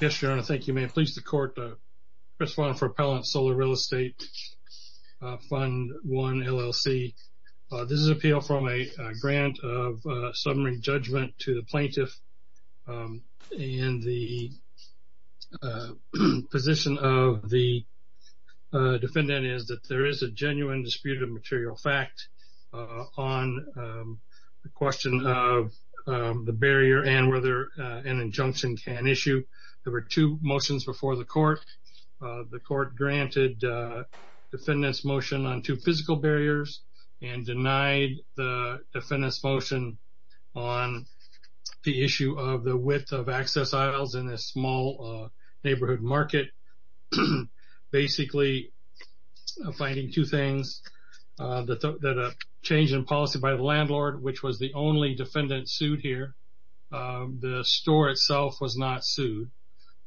Yes, Your Honor, thank you. May it please the Court, Chris Vaughn for Appellant, Sola Real Estate Fund I, LLC. This is an appeal from a grant of summary judgment to the plaintiff, and the position of the defendant is that there is a genuine dispute of material fact on the question of the barrier and whether an injunction can issue. There were two motions before the Court. The Court granted defendant's motion on two physical barriers and denied the defendant's motion on the issue of the width of access aisles in a small neighborhood market. Basically, finding two things, the change in policy by the landlord, which was the only defendant sued here. The store itself was not sued,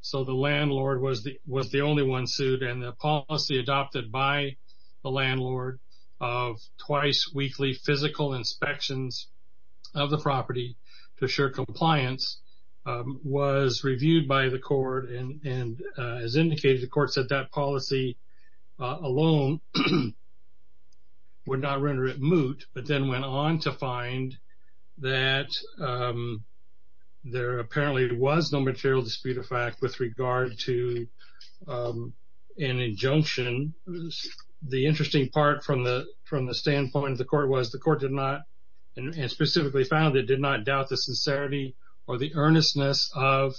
so the landlord was the only one sued, and the policy adopted by the landlord of twice-weekly physical inspections of the property to assure compliance was reviewed by the Court, and as indicated, the Court said that policy alone would not render it moot, but then went on to find that there apparently was no material dispute of fact with regard to an injunction. The interesting part from the standpoint of the Court was the Court did not, and specifically found it, did not doubt the sincerity or the earnestness of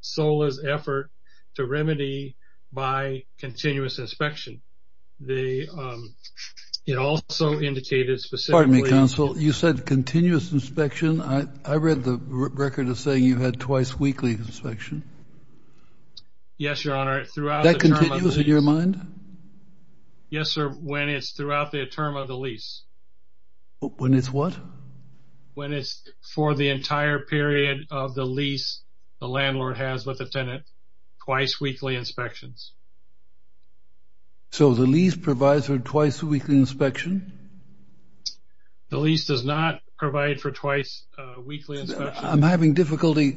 Sola's effort to remedy by continuous inspection. It also indicated specifically Pardon me, Counsel. You said continuous inspection. I read the record as saying you had twice-weekly inspection. Yes, Your Honor. That continues in your mind? Yes, sir, when it's throughout the term of the lease. When it's what? When it's for the entire period of the lease the landlord has with the tenant, twice-weekly inspections. So the lease provides for twice-weekly inspection? The lease does not provide for twice-weekly inspections. I'm having difficulty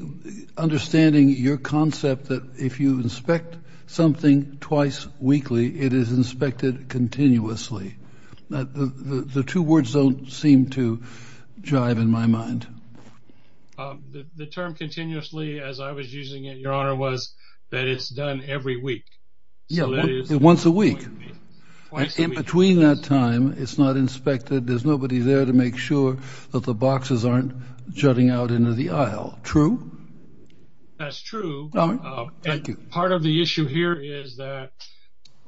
understanding your concept that if you inspect something twice-weekly, it is inspected continuously. The two words don't seem to jive in my mind. The term continuously, as I was using it, Your Honor, was that it's done every week. Yes, once a week. And between that time it's not inspected. There's nobody there to make sure that the boxes aren't jutting out into the aisle. True? That's true. Thank you. Part of the issue here is that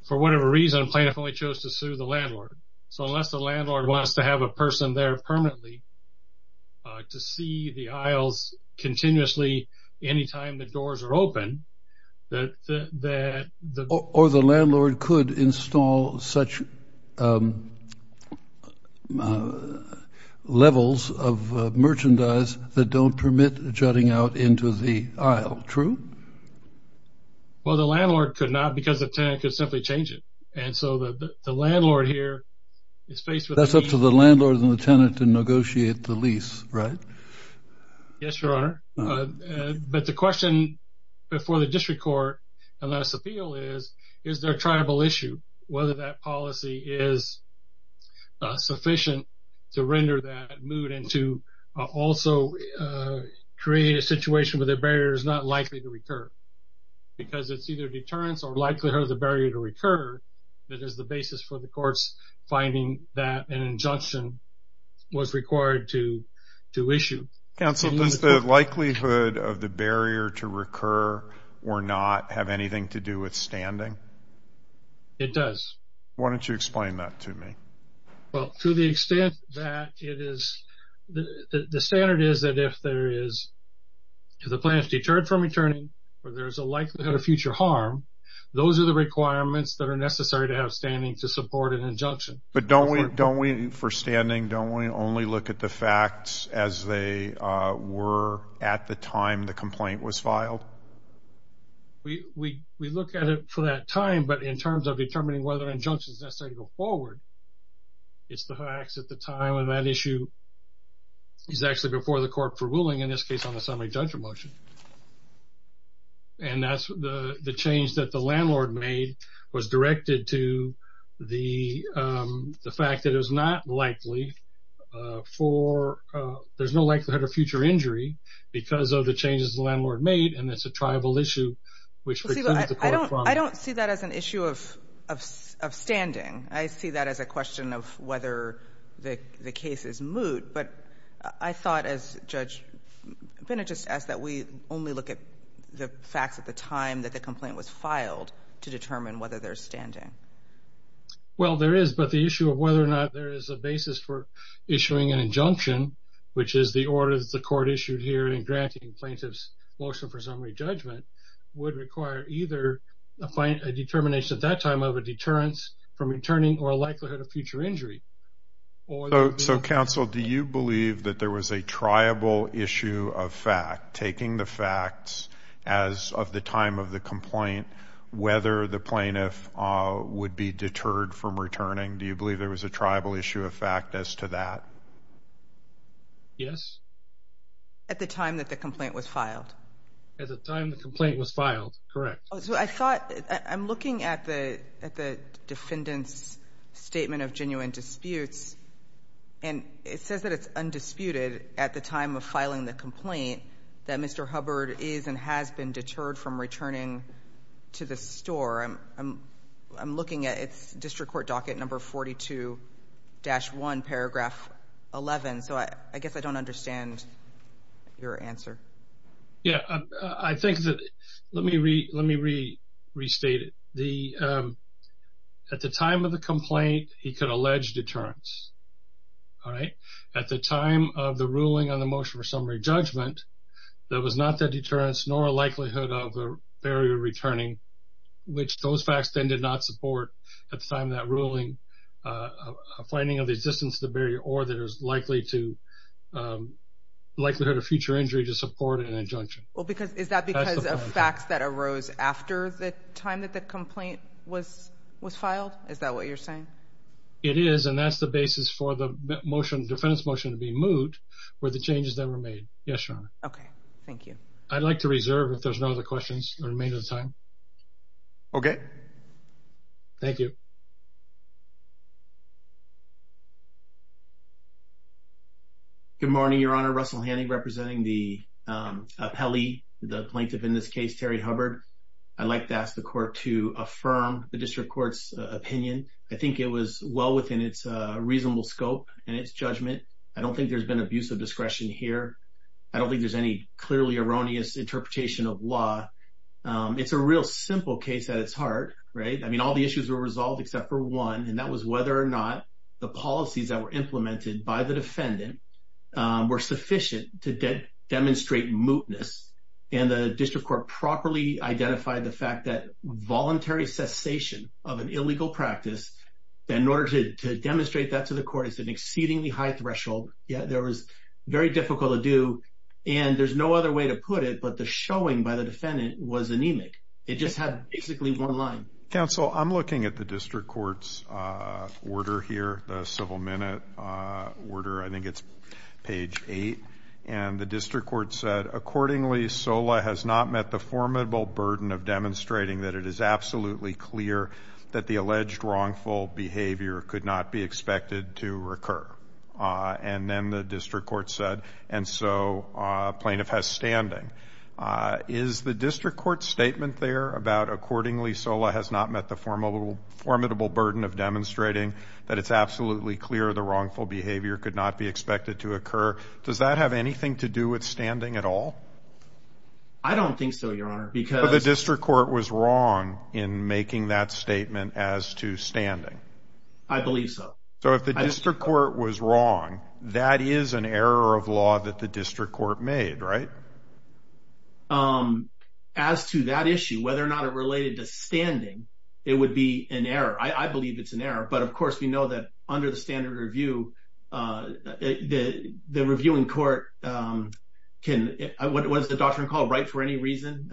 for whatever reason plaintiff only chose to sue the landlord. So unless the landlord wants to have a person there permanently to see the aisles continuously anytime the doors are open, that the... Or the landlord could install such levels of merchandise that don't permit jutting out into the aisle. True? Well, the landlord could not because the tenant could simply change it. And so the landlord here is faced with... That's up to the landlord and the tenant to negotiate the lease, right? Yes, Your Honor. But the question before the district court and let us appeal is, is there a tribal issue? Whether that policy is sufficient to render that mood and to also create a situation where the barrier is not likely to recur. Because it's either deterrence or likelihood of the barrier to recur that is the basis for the courts finding that an injunction was required to issue. Counsel, does the likelihood of the barrier to recur or not have anything to do with standing? It does. Why don't you explain that to me? Well, to the extent that it is... The standard is that if there is... If the plaintiff is deterred from returning or there is a likelihood of future harm, those are the requirements that are necessary to have standing to support an injunction. But don't we, for standing, don't we only look at the facts as they were at the time the complaint was filed? We look at it for that time, but in terms of determining whether an injunction is necessary to go forward, it's the facts at the time. And that issue is actually before the court for ruling, in this case on a semi-judge motion. And that's the change that the landlord made was directed to the fact that it was not likely for... There's no likelihood of future injury because of the changes the landlord made, and it's a tribal issue which... I don't see that as an issue of standing. I see that as a question of whether the case is moot, but I thought, as Judge Bennett just asked, that we only look at the facts at the time that the complaint was filed to determine whether there's standing. Well, there is, but the issue of whether or not there is a basis for issuing an injunction, which is the order that the court issued here in granting plaintiff's motion for summary judgment, would require either a determination at that time of a deterrence from returning or a likelihood of future injury. So, counsel, do you believe that there was a tribal issue of fact, taking the facts as of the time of the complaint, whether the plaintiff would be deterred from returning? Do you believe there was a tribal issue of fact as to that? Yes. At the time that the complaint was filed? At the time the complaint was filed, correct. So I thought, I'm looking at the defendant's statement of genuine disputes, and it says that it's undisputed at the time of filing the complaint that Mr. Hubbard is and has been deterred from returning to the store. I'm looking at its district court docket number 42-1, paragraph 11, so I guess I don't understand your answer. Yeah, I think that let me restate it. At the time of the complaint, he could allege deterrence, all right? At the time of the ruling on the motion for summary judgment, there was not that deterrence nor a likelihood of a barrier returning, which those facts then did not support at the time of that ruling, a finding of the existence of the barrier or the likelihood of future injury to support an injunction. Well, is that because of facts that arose after the time that the complaint was filed? Is that what you're saying? It is, and that's the basis for the motion, the defendant's motion to be moved, were the changes that were made. Yes, Your Honor. Okay, thank you. I'd like to reserve, if there's no other questions, the remainder of the time. Okay. Thank you. Good morning, Your Honor. Russell Hanning representing the appellee, the plaintiff in this case, Terry Hubbard. I'd like to ask the court to affirm the district court's opinion. I think it was well within its reasonable scope and its judgment. I don't think there's been abuse of discretion here. I don't think there's any clearly erroneous interpretation of law. It's a real simple case at its heart, right? I mean, all the issues were resolved except for one, and that was whether or not the policies that were implemented by the defendant were sufficient to demonstrate mootness. And the district court properly identified the fact that voluntary cessation of an illegal practice, in order to demonstrate that to the court, it's an exceedingly high threshold. There was very difficult to do, and there's no other way to put it, but the showing by the defendant was anemic. It just had basically one line. Counsel, I'm looking at the district court's order here, the civil minute order. I think it's page 8. And the district court said, Accordingly, SOLA has not met the formidable burden of demonstrating that it is absolutely clear that the alleged wrongful behavior could not be expected to recur. And then the district court said, and so plaintiff has standing. Is the district court's statement there about, Accordingly, SOLA has not met the formidable burden of demonstrating that it's absolutely clear the wrongful behavior could not be expected to occur, does that have anything to do with standing at all? I don't think so, Your Honor. But the district court was wrong in making that statement as to standing. I believe so. So if the district court was wrong, that is an error of law that the district court made, right? As to that issue, whether or not it related to standing, it would be an error. I believe it's an error. But, of course, we know that under the standard review, the reviewing court can – was the doctrine called right for any reason?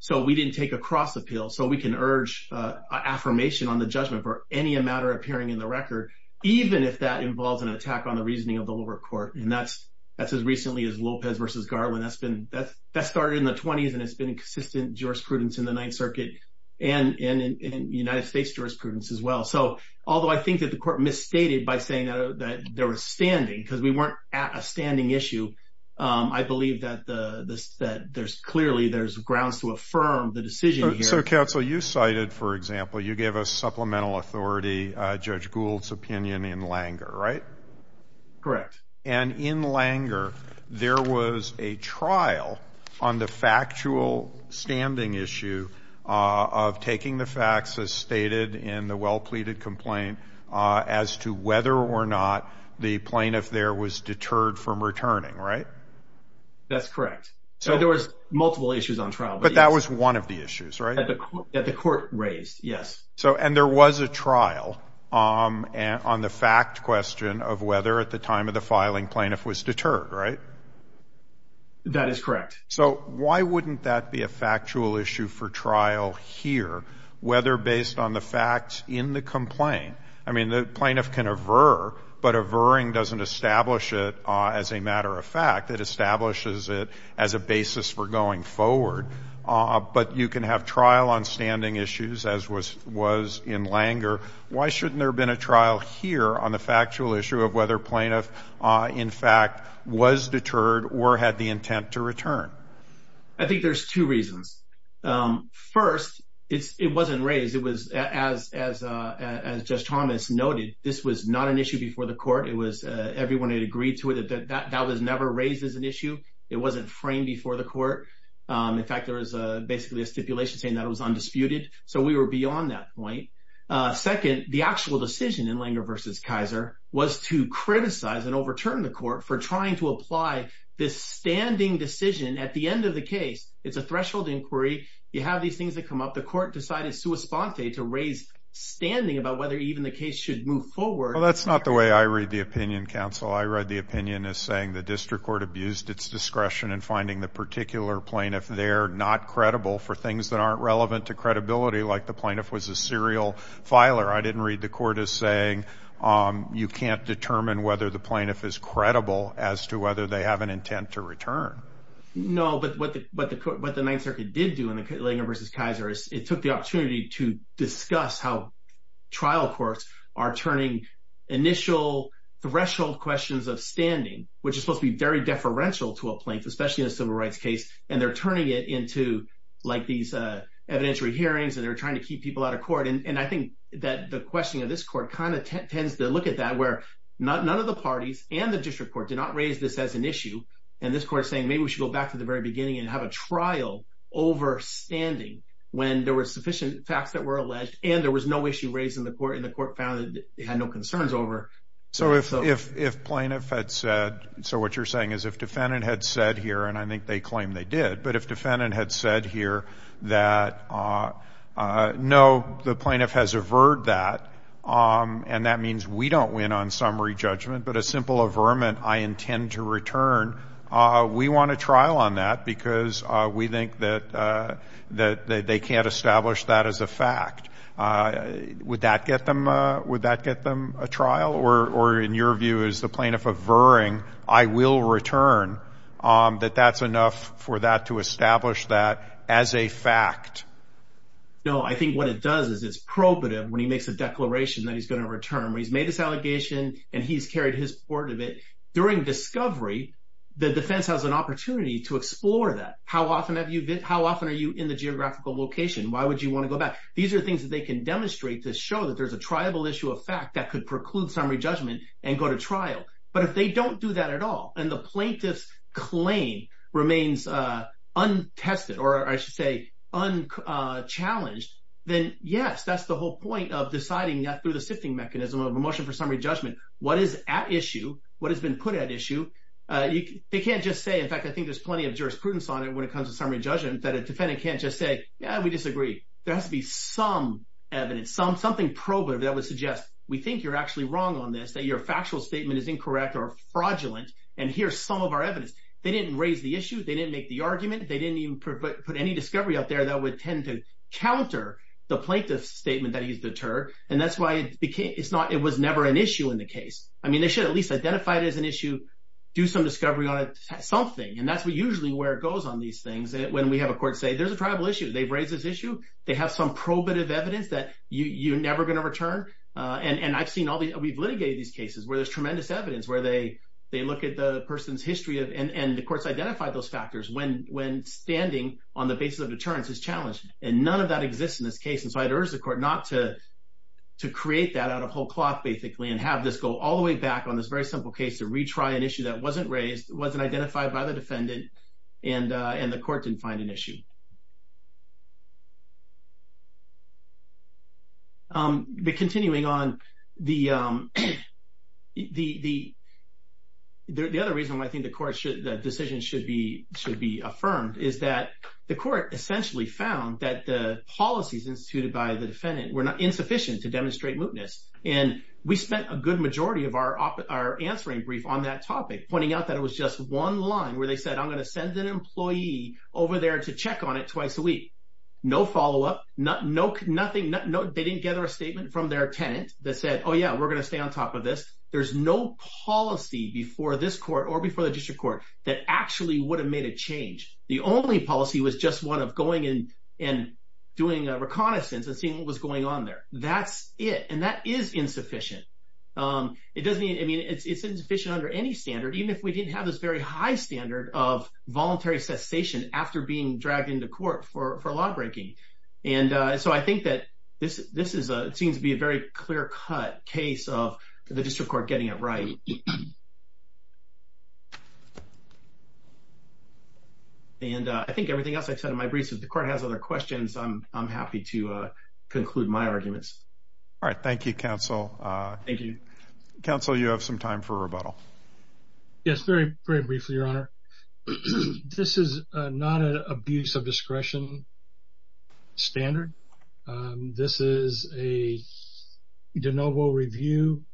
So we didn't take a cross appeal. So we can urge affirmation on the judgment for any matter appearing in the record, even if that involves an attack on the reasoning of the lower court. And that's as recently as Lopez v. Garland. That started in the 20s, and it's been in consistent jurisprudence in the Ninth Circuit and in United States jurisprudence as well. So although I think that the court misstated by saying that there was standing because we weren't at a standing issue, I believe that clearly there's grounds to affirm the decision here. So, counsel, you cited, for example, you gave a supplemental authority, Judge Gould's opinion in Langer, right? Correct. And in Langer, there was a trial on the factual standing issue of taking the facts as stated in the well-pleaded complaint as to whether or not the plaintiff there was deterred from returning, right? That's correct. So there was multiple issues on trial. But that was one of the issues, right? That the court raised, yes. And there was a trial on the fact question of whether at the time of the filing, plaintiff was deterred, right? That is correct. So why wouldn't that be a factual issue for trial here, whether based on the facts in the complaint? I mean, the plaintiff can aver, but averring doesn't establish it as a matter of fact. It establishes it as a basis for going forward. But you can have trial on standing issues, as was in Langer. Why shouldn't there have been a trial here on the factual issue of whether plaintiff, in fact, was deterred or had the intent to return? I think there's two reasons. First, it wasn't raised. It was, as Judge Thomas noted, this was not an issue before the court. It was everyone had agreed to it. That was never raised as an issue. It wasn't framed before the court. In fact, there was basically a stipulation saying that it was undisputed. So we were beyond that point. Second, the actual decision in Langer v. Kaiser was to criticize and overturn the court for trying to apply this standing decision at the end of the case. It's a threshold inquiry. You have these things that come up. The court decided sua sponte to raise standing about whether even the case should move forward. Well, that's not the way I read the opinion, counsel. I read the opinion as saying the district court abused its discretion in finding the particular plaintiff there not credible for things that aren't relevant to credibility, like the plaintiff was a serial filer. I didn't read the court as saying you can't determine whether the plaintiff is credible as to whether they have an intent to return. No, but what the Ninth Circuit did do in Langer v. Kaiser is it took the initial threshold questions of standing, which is supposed to be very deferential to a plaintiff, especially in a civil rights case, and they're turning it into like these evidentiary hearings and they're trying to keep people out of court. And I think that the question of this court kind of tends to look at that where none of the parties and the district court did not raise this as an issue, and this court is saying maybe we should go back to the very beginning and have a trial over standing when there were sufficient facts that were alleged and there was no issue raised in the court and the court found that they had no concerns over. So if plaintiff had said, so what you're saying is if defendant had said here, and I think they claim they did, but if defendant had said here that no, the plaintiff has averred that, and that means we don't win on summary judgment, but a simple averment, I intend to return, we want a trial on that because we think that they can't establish that as a fact. Would that get them a trial? Or in your view, as the plaintiff averring, I will return, that that's enough for that to establish that as a fact? No, I think what it does is it's probative when he makes a declaration that he's going to return. He's made his allegation and he's carried his part of it. During discovery, the defense has an opportunity to explore that. How often are you in the geographical location? Why would you want to go back? These are things that they can demonstrate to show that there's a triable issue of fact that could preclude summary judgment and go to trial. But if they don't do that at all, and the plaintiff's claim remains untested or, I should say, unchallenged, then yes, that's the whole point of deciding that through the sifting mechanism of a motion for summary judgment, what is at issue, what has been put at issue. They can't just say, in fact, I think there's plenty of jurisprudence on it when it comes to summary judgment, that a defendant can't just say, yeah, we disagree. There has to be some evidence, something probative that would suggest we think you're actually wrong on this, that your factual statement is incorrect or fraudulent, and here's some of our evidence. They didn't raise the issue. They didn't make the argument. They didn't even put any discovery out there that would tend to counter the plaintiff's statement that he's deterred. And that's why it was never an issue in the case. I mean, they should at least identify it as an issue, do some discovery on it, something. And that's usually where it goes on these things when we have a court say there's a tribal issue, they've raised this issue, they have some probative evidence that you're never going to return. And I've seen all these – we've litigated these cases where there's tremendous evidence, where they look at the person's history and the court's identified those factors when standing on the basis of deterrence is challenged. And none of that exists in this case, and so I'd urge the court not to create that out of whole cloth, basically, and have this go all the way back on this very simple case to retry an issue that wasn't raised, wasn't identified by the defendant, and the court didn't find an issue. But continuing on, the other reason why I think the court should – the decision should be affirmed is that the court essentially found that the policies instituted by the defendant were insufficient to demonstrate mootness. And we spent a good majority of our answering brief on that topic, pointing out that it was just one line where they said, I'm going to send an employee over there to check on it twice a week. No follow-up, nothing – they didn't gather a statement from their tenant that said, oh, yeah, we're going to stay on top of this. There's no policy before this court or before the district court that actually would have made a change. The only policy was just one of going and doing a reconnaissance and seeing what was going on there. That's it, and that is insufficient. It doesn't mean – I mean, it's insufficient under any standard, even if we didn't have this very high standard of voluntary cessation after being dragged into court for lawbreaking. And so I think that this is – it seems to be a very clear-cut case of the district court getting it right. And I think everything else I've said in my briefs, if the court has other questions, I'm happy to conclude my arguments. All right. Thank you, Counsel. Thank you. Counsel, you have some time for rebuttal. Yes, very briefly, Your Honor. This is not an abuse of discretion standard. This is a de novo review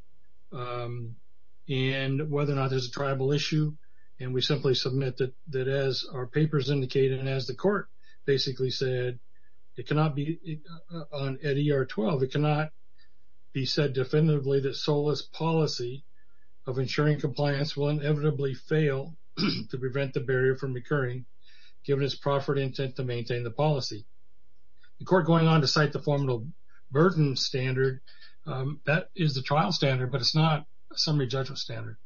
in whether or not there's a tribal issue, and we simply submit that as our papers indicate and as the court basically said, it cannot be – at ER-12, it cannot be said definitively that SOLAS policy of ensuring compliance will inevitably fail to prevent the barrier from occurring, given its proffered intent to maintain the policy. The court going on to cite the formidable burden standard, that is the trial standard, but it's not a summary judgment standard.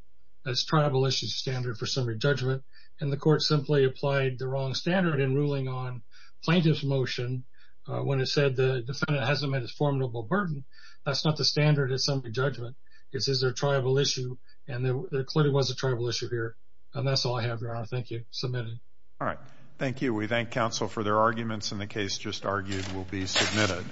That's tribal issues standard for summary judgment, and the court simply applied the wrong standard in ruling on plaintiff's motion when it said the defendant hasn't met its formidable burden. That's not the standard of summary judgment. This is a tribal issue, and there clearly was a tribal issue here. And that's all I have, Your Honor. Thank you. Submitted. All right. Thank you. We thank Counsel for their arguments, and the case just argued will be submitted.